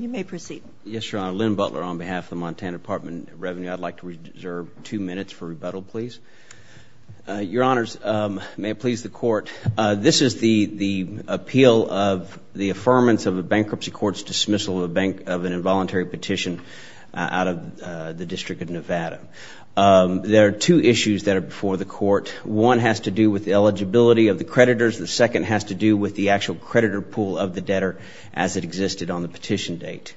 You may proceed. Yes, Your Honor. Lynn Butler on behalf of the Montana Department of Revenue. I'd like to reserve two minutes for rebuttal, please. Your Honors, may it please the Court, this is the appeal of the affirmance of a bankruptcy court's dismissal of an involuntary petition out of the District of Nevada. There are two issues that are before the Court. One has to do with the eligibility of the creditors. The second has to do with the actual creditor pool of the debtor as it existed on the petition date.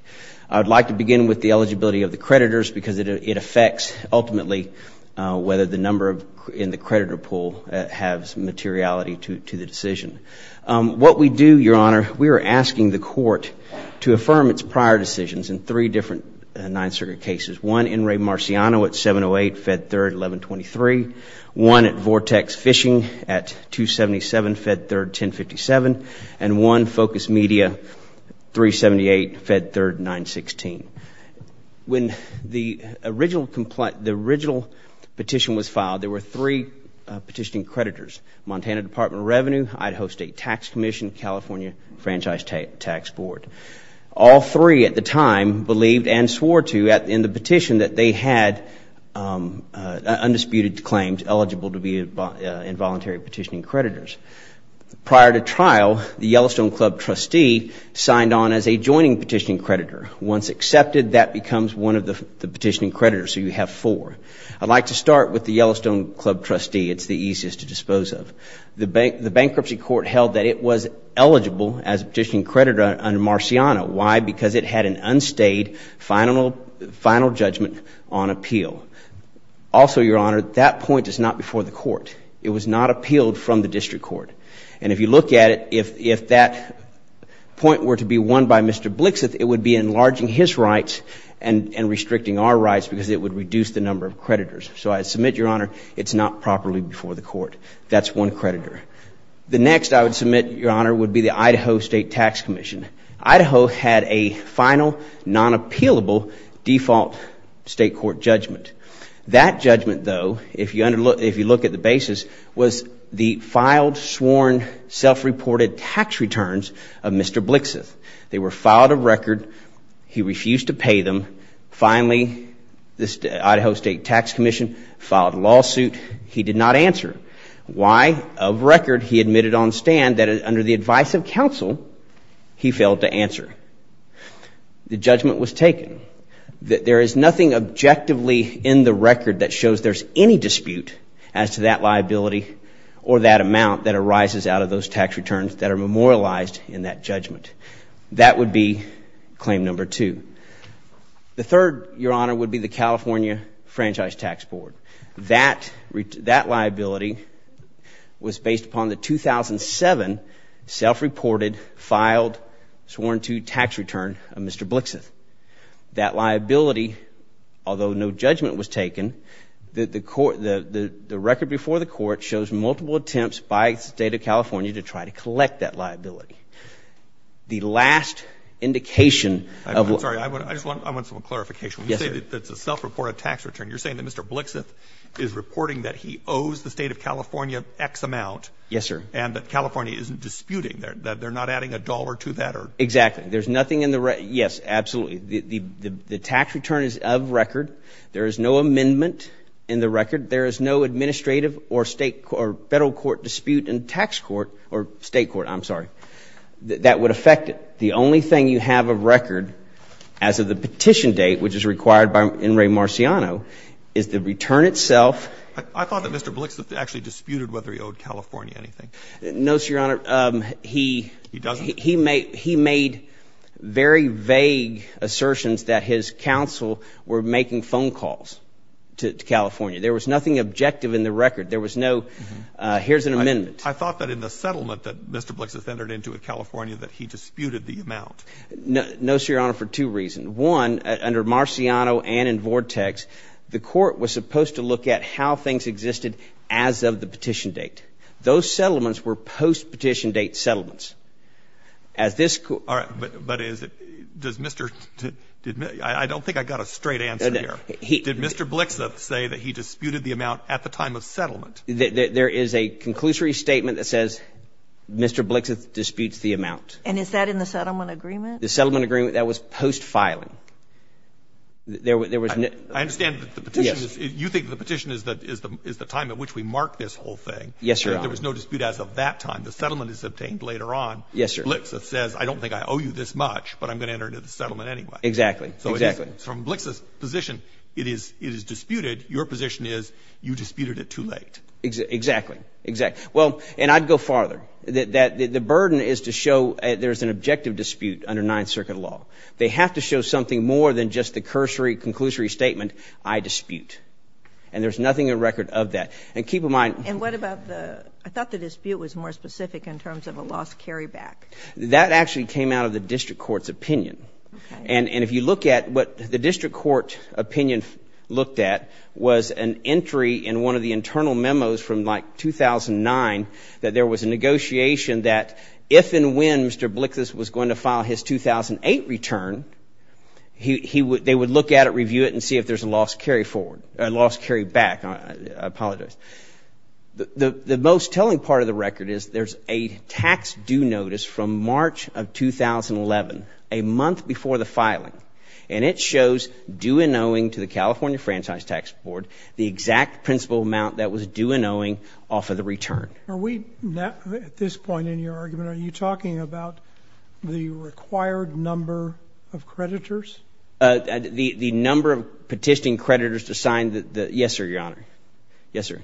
I'd like to begin with the eligibility of the creditors because it affects, ultimately, whether the number in the creditor pool has materiality to the decision. What we do, Your Honor, we are asking the Court to affirm its prior decisions in three different Ninth Circuit cases. One, Enri Marciano at 708, Fed 3rd, 1123. One at Vortex Fishing at 277, Fed 3rd, 1057. And one, Focus Media, 378, Fed 3rd, 916. When the original petition was filed, there were three petitioning creditors. Montana Department of Revenue, Idaho State Tax Commission, California Franchise Tax Board. All three at the time believed and swore to in the petition that they had undisputed claims eligible to be involuntary petitioning creditors. Prior to trial, the Yellowstone Club trustee signed on as a joining petitioning creditor. Once accepted, that becomes one of the petitioning creditors, so you have four. I'd like to start with the Yellowstone Club trustee. It's the easiest to dispose of. The bankruptcy court held that it was eligible as a petitioning creditor under Marciano. Why? Because it had an unstayed final judgment on appeal. Also, Your Honor, that point is not before the court. It was not appealed from the district court. And if you look at it, if that point were to be won by Mr. Blixeth, it would be enlarging his rights and restricting our rights because it would reduce the number of creditors. So I submit, Your Honor, it's not properly before the court. That's one creditor. The next I would submit, Your Honor, would be the Idaho State Tax Commission. Idaho had a final, non-appealable default state court judgment. That judgment, though, if you look at the basis, was the filed, sworn, self-reported tax returns of Mr. Blixeth. They were filed of record. He refused to pay them. Finally, the Idaho State Tax Commission filed a lawsuit. He did not answer. Why? Of record, he admitted on stand that under the advice of counsel, he failed to answer. The judgment was taken. There is nothing objectively in the record that shows there's any dispute as to that liability or that amount that arises out of those tax returns that are memorialized in that judgment. That would be claim number two. The third, Your Honor, would be the California Franchise Tax Board. That liability was based upon the 2007 self-reported, filed, sworn to tax return of Mr. Blixeth. That liability, although no judgment was taken, the record before the court shows multiple attempts by the State of California to try to collect that liability. The last indication of what – I'm sorry. I just want – I want some clarification. Yes, sir. You say that it's a self-reported tax return. You're saying that Mr. Blixeth is reporting that he owes the State of California X amount. Yes, sir. And that California isn't disputing that. They're not adding a dollar to that or – Exactly. There's nothing in the – yes, absolutely. The tax return is of record. There is no amendment in the record. There is no administrative or State – or Federal court dispute in tax court – or State court, I'm sorry – that would affect it. The only thing you have of record as of the petition date, which is required by In re Marciano, is the return itself. I thought that Mr. Blixeth actually disputed whether he owed California anything. No, sir, Your Honor. He – He doesn't. He made very vague assertions that his counsel were making phone calls to California. There was nothing objective in the record. There was no here's an amendment. I thought that in the settlement that Mr. Blixeth entered into in California that he disputed the amount. No, sir, Your Honor, for two reasons. One, under Marciano and in Vortex, the court was supposed to look at how things existed as of the petition date. Those settlements were post-petition date settlements. As this – All right. But is it – does Mr. – I don't think I got a straight answer here. No, no. Did Mr. Blixeth say that he disputed the amount at the time of settlement? There is a conclusory statement that says Mr. Blixeth disputes the amount. And is that in the settlement agreement? The settlement agreement, that was post-filing. There was no – I understand that the petition is – you think the petition is the time at which we mark this whole thing. Yes, sir. There was no dispute as of that time. The settlement is obtained later on. Yes, sir. Blixeth says I don't think I owe you this much, but I'm going to enter into the settlement anyway. Exactly. Exactly. So from Blixeth's position, it is disputed. Your position is you disputed it too late. Exactly. Exactly. Well, and I'd go farther. The burden is to show there's an objective dispute under Ninth Circuit law. They have to show something more than just the cursory, conclusory statement, I dispute. And there's nothing in record of that. And keep in mind – And what about the – I thought the dispute was more specific in terms of a lost carryback. That actually came out of the district court's opinion. Okay. And if you look at what the district court opinion looked at, was an entry in one of the internal memos from, like, 2009, that there was a negotiation that if and when Mr. Blixeth was going to file his 2008 return, they would look at it, review it, and see if there's a lost carryback. I apologize. The most telling part of the record is there's a tax due notice from March of 2011, a month before the filing, and it shows due and owing to the California Franchise Tax Board the exact principal amount that was due and owing off of the return. Are we at this point in your argument, are you talking about the required number of creditors? The number of petitioning creditors to sign the – yes, sir, Your Honor. Yes, sir.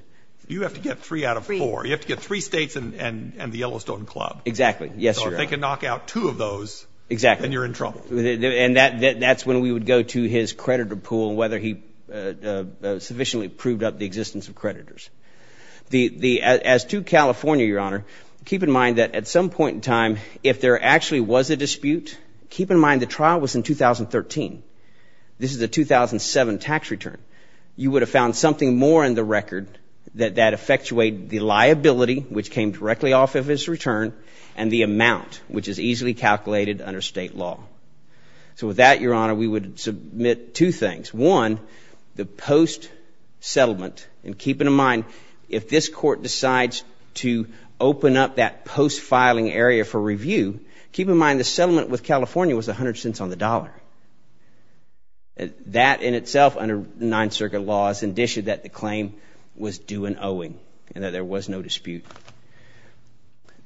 You have to get three out of four. You have to get three states and the Yellowstone Club. Exactly. Yes, sir. So if they can knock out two of those, then you're in trouble. Exactly. And that's when we would go to his creditor pool, whether he sufficiently proved up the existence of creditors. As to California, Your Honor, keep in mind that at some point in time, if there actually was a dispute, keep in mind the trial was in 2013. This is a 2007 tax return. You would have found something more in the record that effectuated the liability, which came directly off of his return, and the amount, which is easily calculated under state law. So with that, Your Honor, we would submit two things. One, the post-settlement, and keep in mind, if this court decides to open up that post-filing area for review, keep in mind the settlement with California was 100 cents on the dollar. That in itself, under Ninth Circuit law, is indicia that the claim was due an owing and that there was no dispute.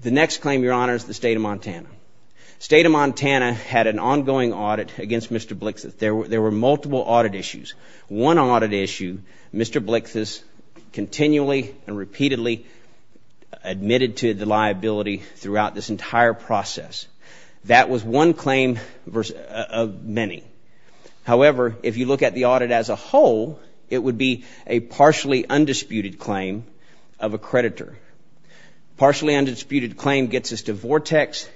The next claim, Your Honor, is the state of Montana. The state of Montana had an ongoing audit against Mr. Blixas. There were multiple audit issues. One audit issue, Mr. Blixas continually and repeatedly admitted to the liability throughout this entire process. That was one claim of many. However, if you look at the audit as a whole, it would be a partially undisputed claim of a creditor. Partially undisputed claim gets us to Vortex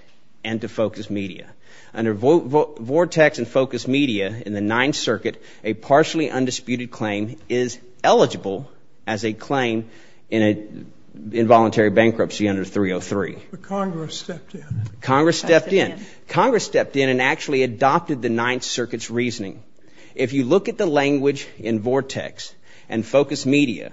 and to Focus Media. Under Vortex and Focus Media in the Ninth Circuit, a partially undisputed claim is eligible as a claim in involuntary bankruptcy under 303. But Congress stepped in. Congress stepped in. Congress stepped in and actually adopted the Ninth Circuit's reasoning. If you look at the language in Vortex and Focus Media,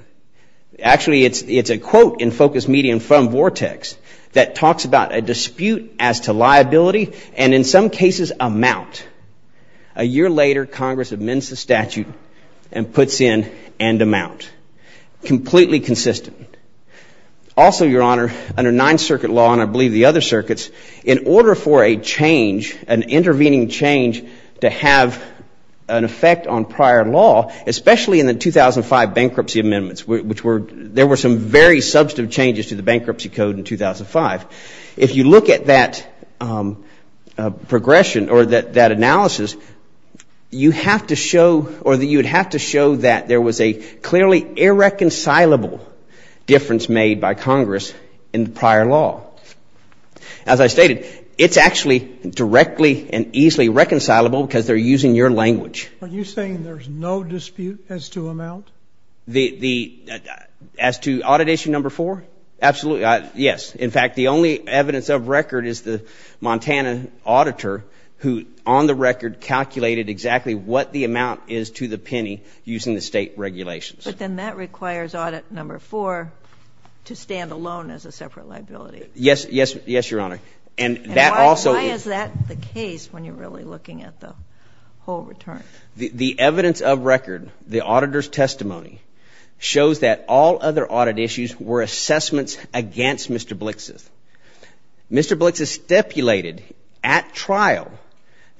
actually it's a quote in Focus Media and from Vortex that talks about a dispute as to liability and in some cases amount. A year later, Congress amends the statute and puts in end amount. Completely consistent. Also, Your Honor, under Ninth Circuit law and I believe the other circuits, in order for a change, an intervening change to have an effect on prior law, especially in the 2005 bankruptcy amendments, there were some very substantive changes to the bankruptcy code in 2005. If you look at that progression or that analysis, you'd have to show that there was a clearly irreconcilable difference made by Congress in prior law. As I stated, it's actually directly and easily reconcilable because they're using your language. Are you saying there's no dispute as to amount? As to Audit Issue Number 4? Absolutely. Yes. In fact, the only evidence of record is the Montana auditor who, on the record, calculated exactly what the amount is to the penny using the state regulations. But then that requires Audit Number 4 to stand alone as a separate liability. Yes, Your Honor. And why is that the case when you're really looking at the whole return? The evidence of record, the auditor's testimony, shows that all other audit issues were assessments against Mr. Blix's. Mr. Blix's stipulated at trial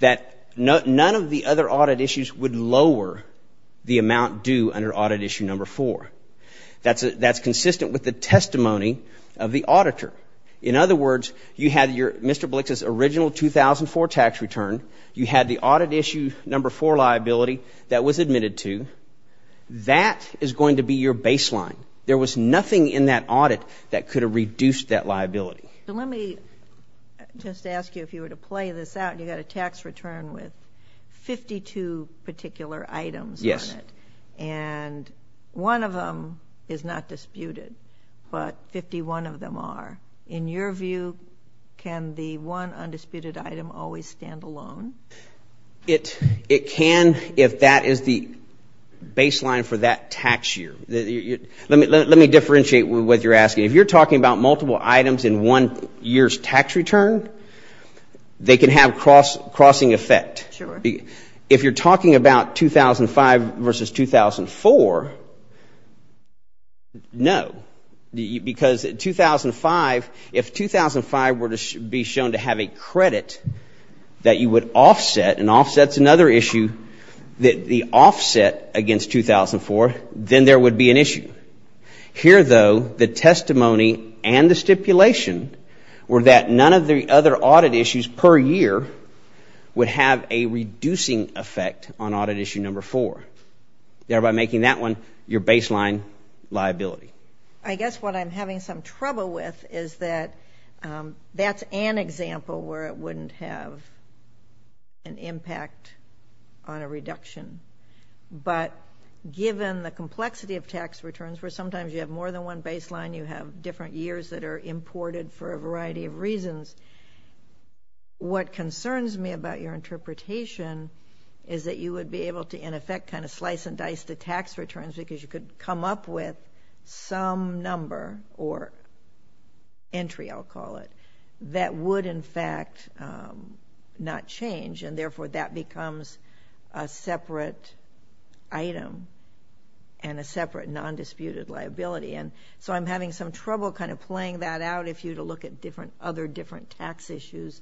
that none of the other audit issues would lower the amount due under Audit Issue Number 4. That's consistent with the testimony of the auditor. In other words, you had Mr. Blix's original 2004 tax return. You had the Audit Issue Number 4 liability that was admitted to. That is going to be your baseline. There was nothing in that audit that could have reduced that liability. Let me just ask you if you were to play this out. You've got a tax return with 52 particular items on it. Yes. And one of them is not disputed, but 51 of them are. In your view, can the one undisputed item always stand alone? It can if that is the baseline for that tax year. Let me differentiate what you're asking. If you're talking about multiple items in one year's tax return, they can have crossing effect. Sure. If you're talking about 2005 versus 2004, no. Because 2005, if 2005 were to be shown to have a credit that you would offset, and offset's another issue, the offset against 2004, then there would be an issue. Here, though, the testimony and the stipulation were that none of the other audit issues per year would have a reducing effect on Audit Issue Number 4, thereby making that one your baseline liability. I guess what I'm having some trouble with is that that's an example where it wouldn't have an impact on a reduction. But given the complexity of tax returns, where sometimes you have more than one baseline, you have different years that are imported for a variety of reasons, what concerns me about your interpretation is that you would be able to, in effect, kind of slice and dice the tax returns because you could come up with some number, or entry, I'll call it, that would, in fact, not change. Therefore, that becomes a separate item and a separate non-disputed liability. And so I'm having some trouble kind of playing that out if you were to look at other different tax issues.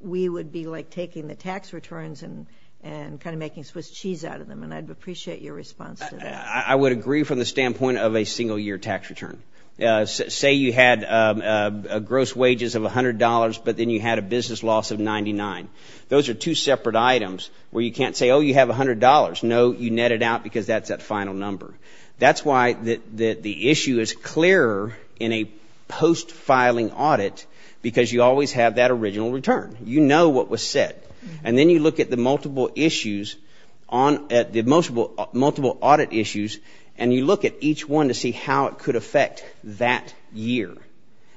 We would be like taking the tax returns and kind of making Swiss cheese out of them, and I'd appreciate your response to that. I would agree from the standpoint of a single-year tax return. Say you had gross wages of $100, but then you had a business loss of $99. Those are two separate items where you can't say, oh, you have $100. No, you net it out because that's that final number. That's why the issue is clearer in a post-filing audit because you always have that original return. You know what was said. And then you look at the multiple issues on the multiple audit issues, and you look at each one to see how it could affect that year.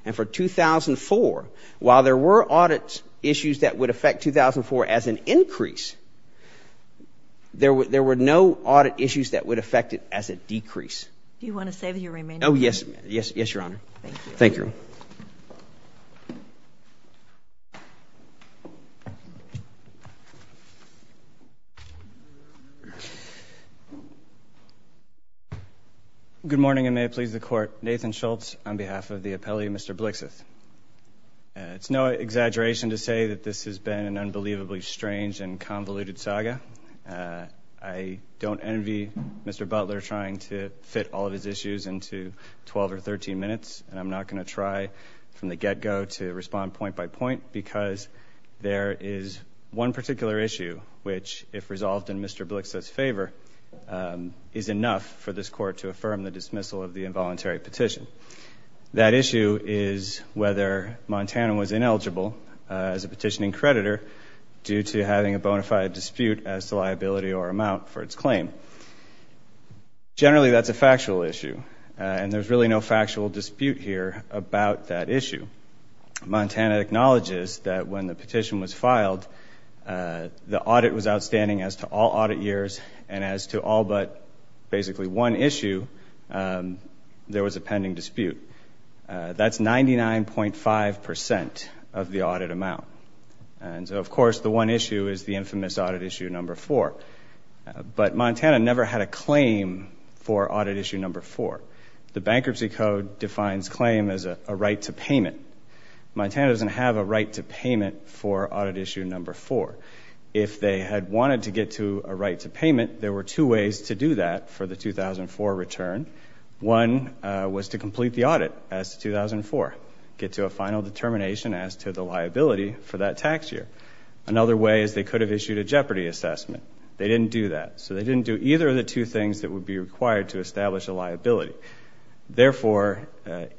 And for 2004, while there were audit issues that would affect 2004 as an increase, there were no audit issues that would affect it as a decrease. Do you want to say that you remain? Oh, yes. Yes, Your Honor. Thank you. Thank you. Good morning, and may it please the Court. Nathan Schultz on behalf of the appellee, Mr. Blixeth. It's no exaggeration to say that this has been an unbelievably strange and convoluted saga. I don't envy Mr. Butler trying to fit all of his issues into 12 or 13 minutes, and I'm not going to try from the get-go to respond point by point because there is one particular issue which, if resolved in Mr. Blixeth's favor, is enough for this Court to affirm the dismissal of the involuntary petition. That issue is whether Montana was ineligible as a petitioning creditor due to having a bona fide dispute as to liability or amount for its claim. Generally, that's a factual issue, and there's really no factual dispute here about that issue. Montana acknowledges that when the petition was filed, the audit was outstanding as to all audit years, and as to all but basically one issue, there was a pending dispute. That's 99.5% of the audit amount. And so, of course, the one issue is the infamous Audit Issue No. 4. But Montana never had a claim for Audit Issue No. 4. The Bankruptcy Code defines claim as a right to payment. Montana doesn't have a right to payment for Audit Issue No. 4. If they had wanted to get to a right to payment, there were two ways to do that for the 2004 return. One was to complete the audit as to 2004, get to a final determination as to the liability for that tax year. Another way is they could have issued a jeopardy assessment. They didn't do that, so they didn't do either of the two things that would be required to establish a liability. Therefore,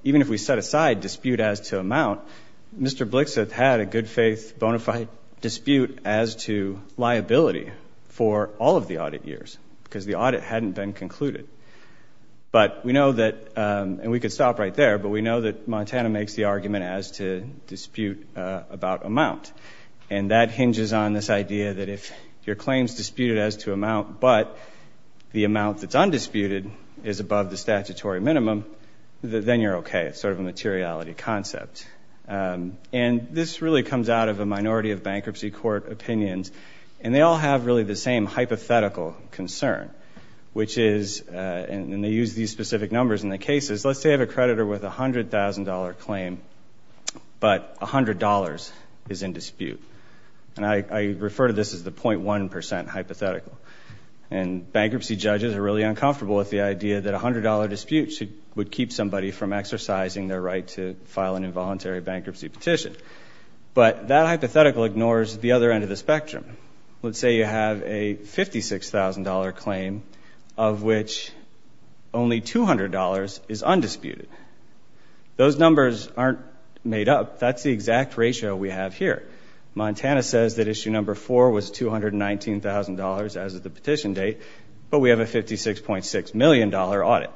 even if we set aside dispute as to amount, Mr. Blixeth had a good-faith bona fide dispute as to liability for all of the audit years because the audit hadn't been concluded. But we know that, and we could stop right there, but we know that Montana makes the argument as to dispute about amount. And that hinges on this idea that if your claim is disputed as to amount but the amount that's undisputed is above the statutory minimum, then you're okay. It's sort of a materiality concept. And this really comes out of a minority of bankruptcy court opinions, and they all have really the same hypothetical concern, which is, and they use these specific numbers in the cases. Let's say I have a creditor with a $100,000 claim, but $100 is in dispute. And I refer to this as the 0.1% hypothetical. And bankruptcy judges are really uncomfortable with the idea that a $100 dispute would keep somebody from exercising their right to file an involuntary bankruptcy petition. But that hypothetical ignores the other end of the spectrum. Let's say you have a $56,000 claim of which only $200 is undisputed. Those numbers aren't made up. That's the exact ratio we have here. Montana says that issue number four was $219,000 as of the petition date, but we have a $56.6 million audit.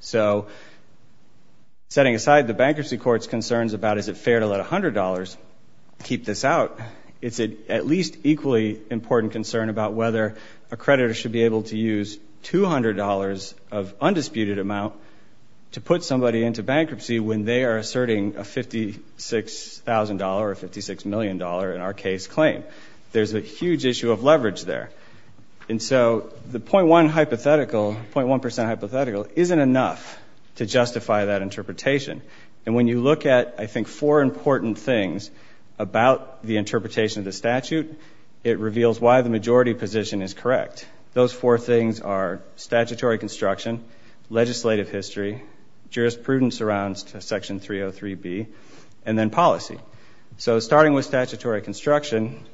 So setting aside the bankruptcy court's concerns about is it fair to let $100 keep this out, it's at least equally important concern about whether a creditor should be able to use $200 of undisputed amount to put somebody into bankruptcy when they are asserting a $56,000 or $56 million in our case claim. There's a huge issue of leverage there. And so the 0.1% hypothetical isn't enough to justify that interpretation. And when you look at, I think, four important things about the interpretation of the statute, it reveals why the majority position is correct. Those four things are statutory construction, legislative history, jurisprudence around Section 303B, and then policy. So starting with statutory construction,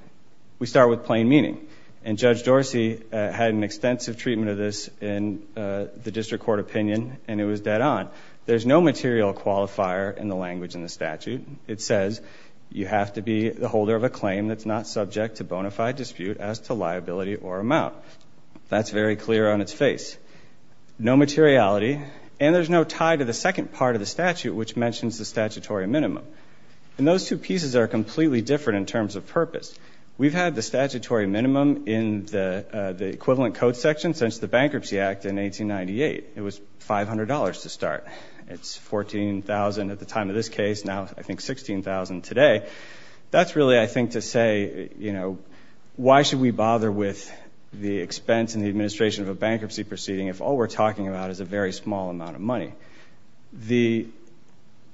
we start with plain meaning. And Judge Dorsey had an extensive treatment of this in the district court opinion, and it was dead on. There's no material qualifier in the language in the statute. It says you have to be the holder of a claim that's not subject to bona fide dispute as to liability or amount. That's very clear on its face. No materiality, and there's no tie to the second part of the statute, which mentions the statutory minimum. And those two pieces are completely different in terms of purpose. We've had the statutory minimum in the equivalent code section since the Bankruptcy Act in 1898. It was $500 to start. It's $14,000 at the time of this case, now I think $16,000 today. That's really, I think, to say, you know, why should we bother with the expense and the administration of a bankruptcy proceeding if all we're talking about is a very small amount of money? The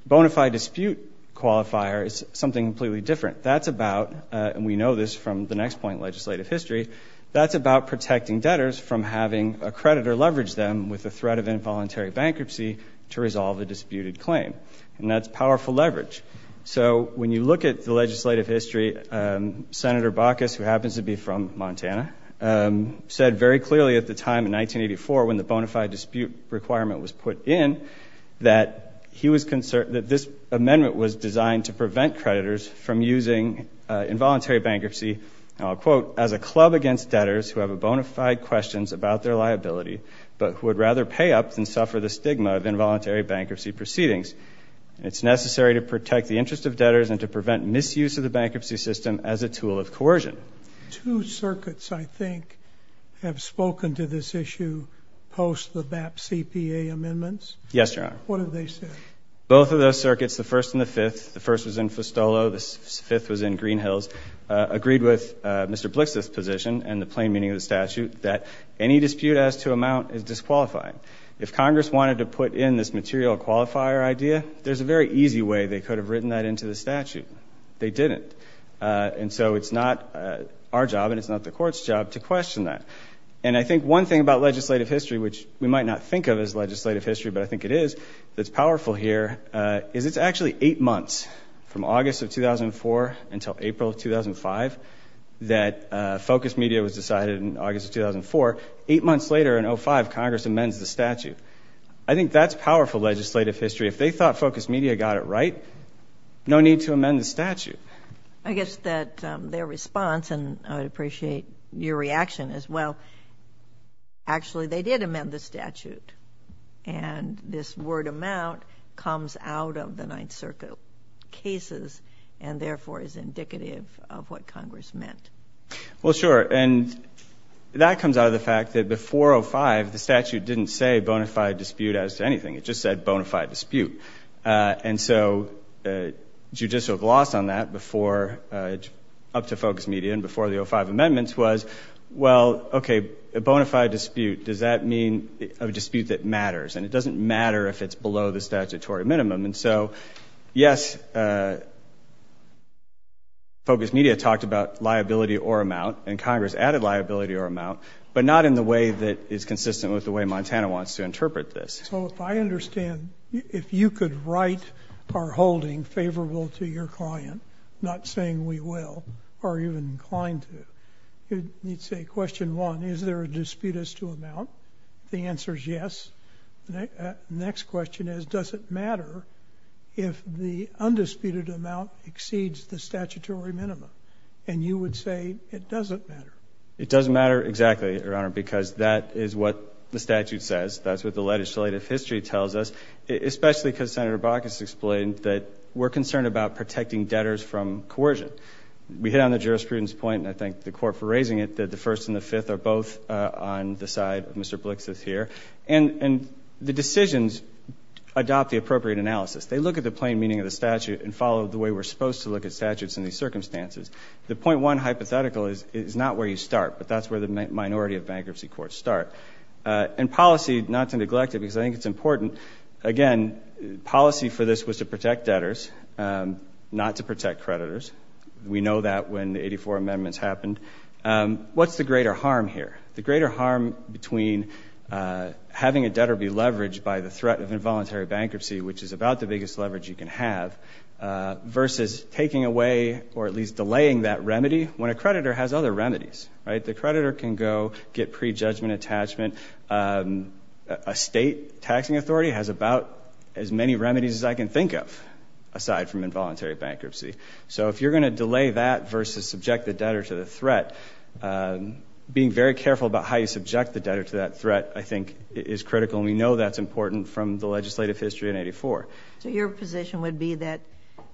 bona fide dispute qualifier is something completely different. That's about, and we know this from the next point in legislative history, that's about protecting debtors from having a creditor leverage them with the threat of involuntary bankruptcy to resolve a disputed claim. And that's powerful leverage. So when you look at the legislative history, Senator Baucus, who happens to be from Montana, said very clearly at the time in 1984 when the bona fide dispute requirement was put in that this amendment was designed to prevent creditors from using involuntary bankruptcy, and I'll quote, as a club against debtors who have bona fide questions about their liability but who would rather pay up than suffer the stigma of involuntary bankruptcy proceedings. It's necessary to protect the interest of debtors and to prevent misuse of the bankruptcy system as a tool of coercion. Two circuits, I think, have spoken to this issue post the BAP CPA amendments. Yes, Your Honor. What did they say? Both of those circuits, the first and the fifth, the first was in Festolo, the fifth was in Greenhills, agreed with Mr. Blix's position and the plain meaning of the statute that any dispute as to amount is disqualified. If Congress wanted to put in this material qualifier idea, there's a very easy way they could have written that into the statute. They didn't. And so it's not our job and it's not the court's job to question that. And I think one thing about legislative history, which we might not think of as legislative history, but I think it is, that's powerful here, is it's actually eight months from August of 2004 until April of 2005 that Focus Media was decided in August of 2004. Eight months later in 2005, Congress amends the statute. I think that's powerful legislative history. If they thought Focus Media got it right, no need to amend the statute. I guess that their response, and I appreciate your reaction as well, actually they did amend the statute. And this word amount comes out of the Ninth Circuit cases and therefore is indicative of what Congress meant. Well, sure. And that comes out of the fact that before 05, the statute didn't say bona fide dispute as to anything. It just said bona fide dispute. And so judicial gloss on that up to Focus Media and before the 05 amendments was, well, okay, a bona fide dispute, does that mean a dispute that matters? And it doesn't matter if it's below the statutory minimum. And so, yes, Focus Media talked about liability or amount, and Congress added liability or amount, but not in the way that is consistent with the way Montana wants to interpret this. So if I understand, if you could write our holding favorable to your client, not saying we will, or even inclined to, you'd say question one, is there a dispute as to amount? The answer is yes. Next question is, does it matter if the undisputed amount exceeds the statutory minimum? And you would say it doesn't matter. It doesn't matter exactly, Your Honor, because that is what the statute says. That's what the legislative history tells us, especially because Senator Baucus explained that we're concerned about protecting debtors from coercion. We hit on the jurisprudence point, and I thank the Court for raising it, that the first and the fifth are both on the side of Mr. Blix's here. And the decisions adopt the appropriate analysis. They look at the plain meaning of the statute and follow the way we're supposed to look at statutes in these circumstances. The point one hypothetical is not where you start, but that's where the minority of bankruptcy courts start. In policy, not to neglect it because I think it's important, again, policy for this was to protect debtors, not to protect creditors. We know that when the 84 amendments happened. What's the greater harm here? The greater harm between having a debtor be leveraged by the threat of involuntary bankruptcy, which is about the biggest leverage you can have, versus taking away or at least delaying that remedy, when a creditor has other remedies, right? The creditor can go get prejudgment attachment. A state taxing authority has about as many remedies as I can think of, aside from involuntary bankruptcy. So if you're going to delay that versus subject the debtor to the threat, being very careful about how you subject the debtor to that threat, I think, is critical. And we know that's important from the legislative history in 84. So your position would be that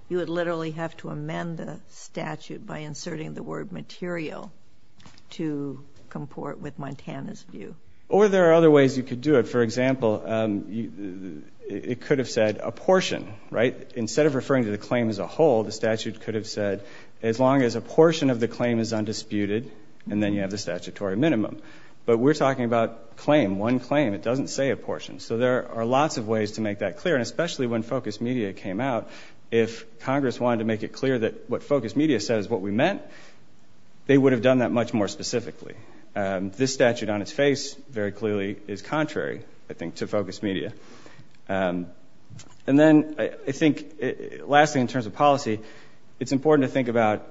you would literally have to amend the statute by inserting the word material to comport with Montana's view? Or there are other ways you could do it. For example, it could have said a portion, right? Instead of referring to the claim as a whole, the statute could have said as long as a portion of the claim is undisputed, and then you have the statutory minimum. But we're talking about claim, one claim. It doesn't say a portion. So there are lots of ways to make that clear, and especially when focus media came out, if Congress wanted to make it clear that what focus media said is what we meant, they would have done that much more specifically. This statute on its face very clearly is contrary, I think, to focus media. And then I think, lastly, in terms of policy, it's important to think about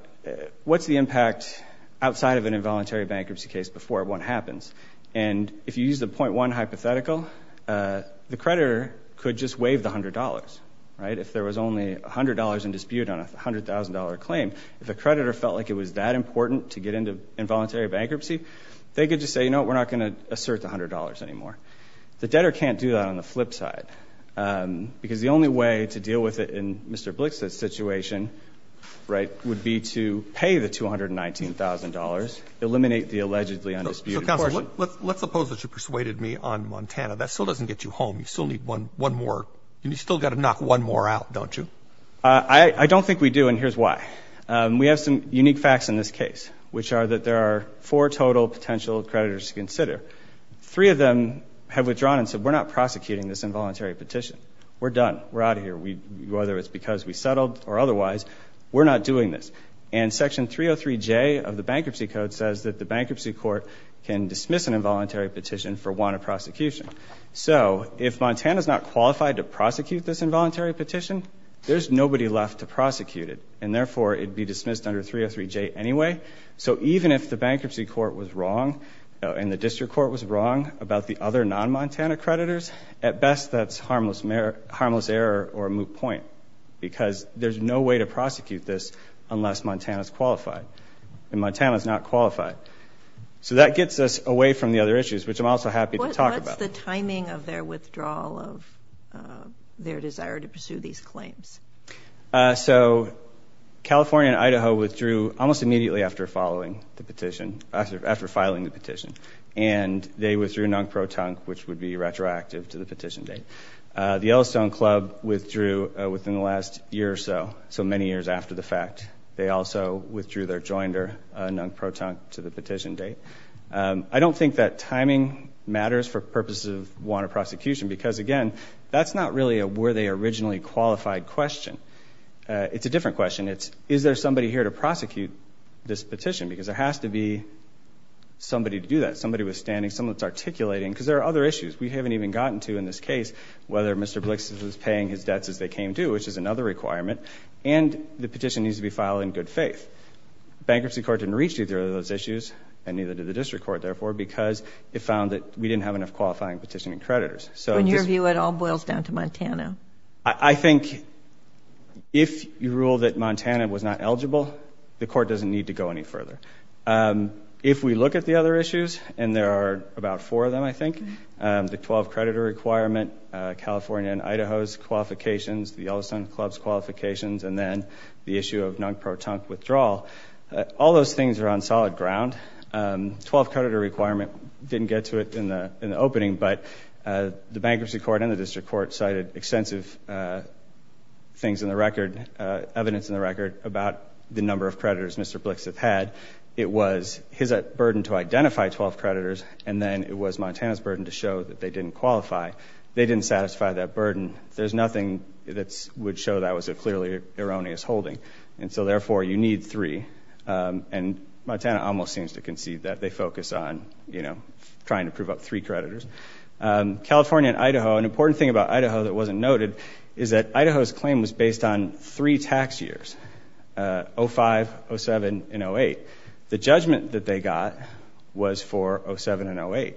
what's the impact outside of an involuntary bankruptcy case before one happens. And if you use the .1 hypothetical, the creditor could just waive the $100, right? If there was only $100 in dispute on a $100,000 claim, if the creditor felt like it was that important to get into involuntary bankruptcy, they could just say, you know what, we're not going to assert the $100 anymore. The debtor can't do that on the flip side because the only way to deal with it in Mr. Blix's situation, right, would be to pay the $219,000, eliminate the allegedly undisputed portion. So, counsel, let's suppose that you persuaded me on Montana. That still doesn't get you home. You still need one more. You've still got to knock one more out, don't you? I don't think we do, and here's why. We have some unique facts in this case, which are that there are four total potential creditors to consider. Three of them have withdrawn and said, we're not prosecuting this involuntary petition. We're done. We're out of here. Whether it's because we settled or otherwise, we're not doing this. And Section 303J of the Bankruptcy Code says that the bankruptcy court can dismiss an involuntary petition for want of prosecution. So, if Montana's not qualified to prosecute this involuntary petition, there's nobody left to prosecute it, and therefore it would be dismissed under 303J anyway. So even if the bankruptcy court was wrong and the district court was wrong about the other non-Montana creditors, at best that's harmless error or a moot point because there's no way to prosecute this unless Montana's qualified, and Montana's not qualified. So that gets us away from the other issues, which I'm also happy to talk about. What's the timing of their withdrawal of their desire to pursue these claims? So California and Idaho withdrew almost immediately after filing the petition, and they withdrew NUNC protunc, which would be retroactive to the petition date. The Yellowstone Club withdrew within the last year or so, so many years after the fact. They also withdrew their joinder, NUNC protunc, to the petition date. I don't think that timing matters for purposes of want of prosecution because, again, that's not really a were they originally qualified question. It's a different question. It's is there somebody here to prosecute this petition because there has to be somebody to do that, somebody withstanding, someone that's articulating because there are other issues we haven't even gotten to in this case, whether Mr. Blix is paying his debts as they came due, which is another requirement, and the petition needs to be filed in good faith. Bankruptcy court didn't reach either of those issues, and neither did the district court, therefore, because it found that we didn't have enough qualifying petitioning creditors. When your view, it all boils down to Montana. I think if you rule that Montana was not eligible, the court doesn't need to go any further. If we look at the other issues, and there are about four of them, I think, the 12-creditor requirement, California and Idaho's qualifications, the Yellowstone Club's qualifications, and then the issue of NUNC protunc withdrawal, all those things are on solid ground. 12-creditor requirement didn't get to it in the opening, but the bankruptcy court and the district court cited extensive things in the record, evidence in the record about the number of creditors Mr. Blix had. It was his burden to identify 12 creditors, and then it was Montana's burden to show that they didn't qualify. They didn't satisfy that burden. There's nothing that would show that was a clearly erroneous holding, and so, therefore, you need three, and Montana almost seems to concede that they focus on trying to prove up three creditors. California and Idaho, an important thing about Idaho that wasn't noted is that Idaho's claim was based on three tax years, 05, 07, and 08. The judgment that they got was for 07 and 08.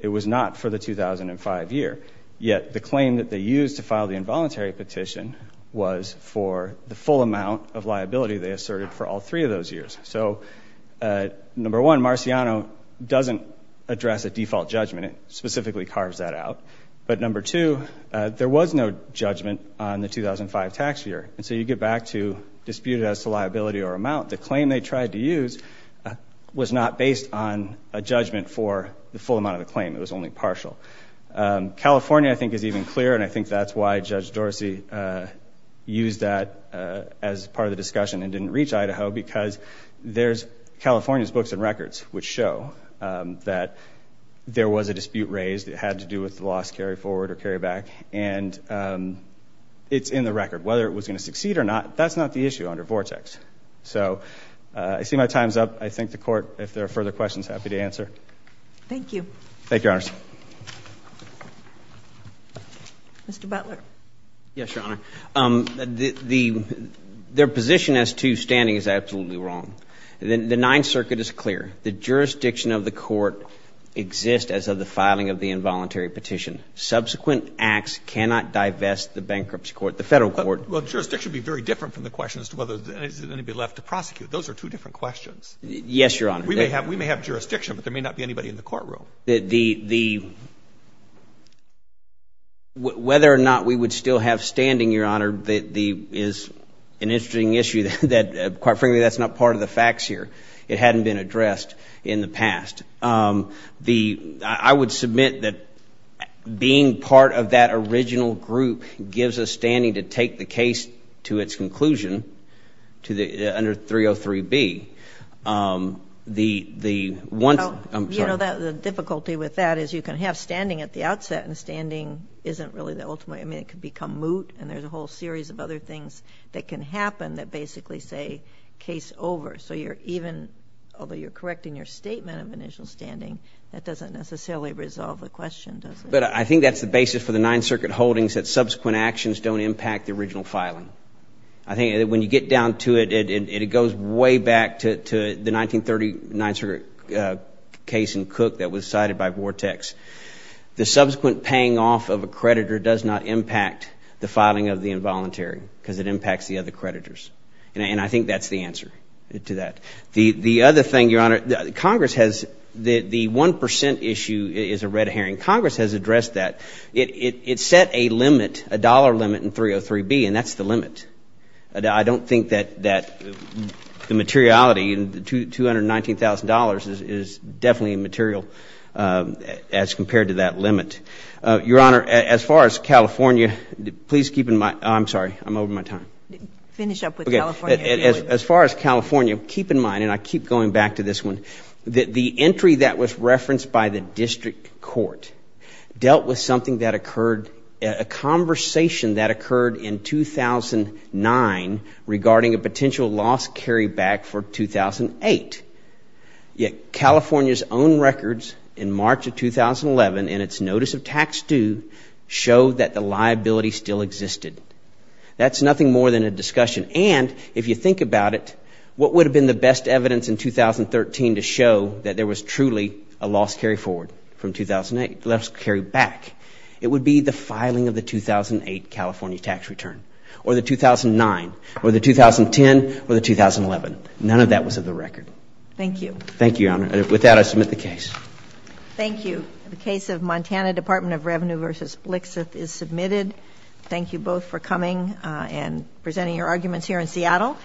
It was not for the 2005 year, yet the claim that they used to file the involuntary petition was for the full amount of liability they asserted for all three of those years. So, number one, Marciano doesn't address a default judgment. It specifically carves that out, but number two, there was no judgment on the 2005 tax year, and so you get back to dispute as to liability or amount. The claim they tried to use was not based on a judgment for the full amount of the claim. It was only partial. California, I think, is even clearer, and I think that's why Judge Dorsey used that as part of the discussion and didn't reach Idaho because there's California's books and records which show that there was a dispute raised. It had to do with the loss carried forward or carried back, and it's in the record. Whether it was going to succeed or not, that's not the issue under Vortex. So, I see my time's up. I think the Court, if there are further questions, happy to answer. Thank you. Thank you, Your Honor. Mr. Butler. Yes, Your Honor. Their position as to standing is absolutely wrong. The Ninth Circuit is clear. The jurisdiction of the court exists as of the filing of the involuntary petition. Subsequent acts cannot divest the bankruptcy court, the Federal court. Well, jurisdiction would be very different from the question as to whether anybody left to prosecute. Those are two different questions. Yes, Your Honor. We may have jurisdiction, but there may not be anybody in the courtroom. Whether or not we would still have standing, Your Honor, is an interesting issue. Quite frankly, that's not part of the facts here. It hadn't been addressed in the past. I would submit that being part of that original group gives us standing to take the case to its conclusion under 303B. You know, the difficulty with that is you can have standing at the outset, and standing isn't really the ultimate. I mean, it could become moot, and there's a whole series of other things that can happen that basically say case over. So you're even, although you're correcting your statement of initial standing, that doesn't necessarily resolve the question, does it? But I think that's the basis for the Ninth Circuit holdings, that subsequent actions don't impact the original filing. I think when you get down to it, it goes way back to the 1939 case in Cook that was cited by Vortex. The subsequent paying off of a creditor does not impact the filing of the involuntary because it impacts the other creditors. And I think that's the answer to that. The other thing, Your Honor, Congress has the 1 percent issue is a red herring. Congress has addressed that. It set a limit, a dollar limit in 303B, and that's the limit. I don't think that the materiality in the $219,000 is definitely material as compared to that limit. Your Honor, as far as California, please keep in mind, I'm sorry, I'm over my time. Finish up with California. As far as California, keep in mind, and I keep going back to this one, that the entry that was referenced by the district court dealt with something that occurred, a conversation that occurred in 2009 regarding a potential loss carryback for 2008. Yet California's own records in March of 2011 in its notice of tax due show that the liability still existed. That's nothing more than a discussion. And if you think about it, what would have been the best evidence in 2013 to show that there was truly a loss carryforward from 2008, a loss carryback? It would be the filing of the 2008 California tax return, or the 2009, or the 2010, or the 2011. None of that was of the record. Thank you. Thank you, Your Honor. With that, I submit the case. Thank you. The case of Montana Department of Revenue v. Blixith is submitted. Thank you both for coming and presenting your arguments here in Seattle.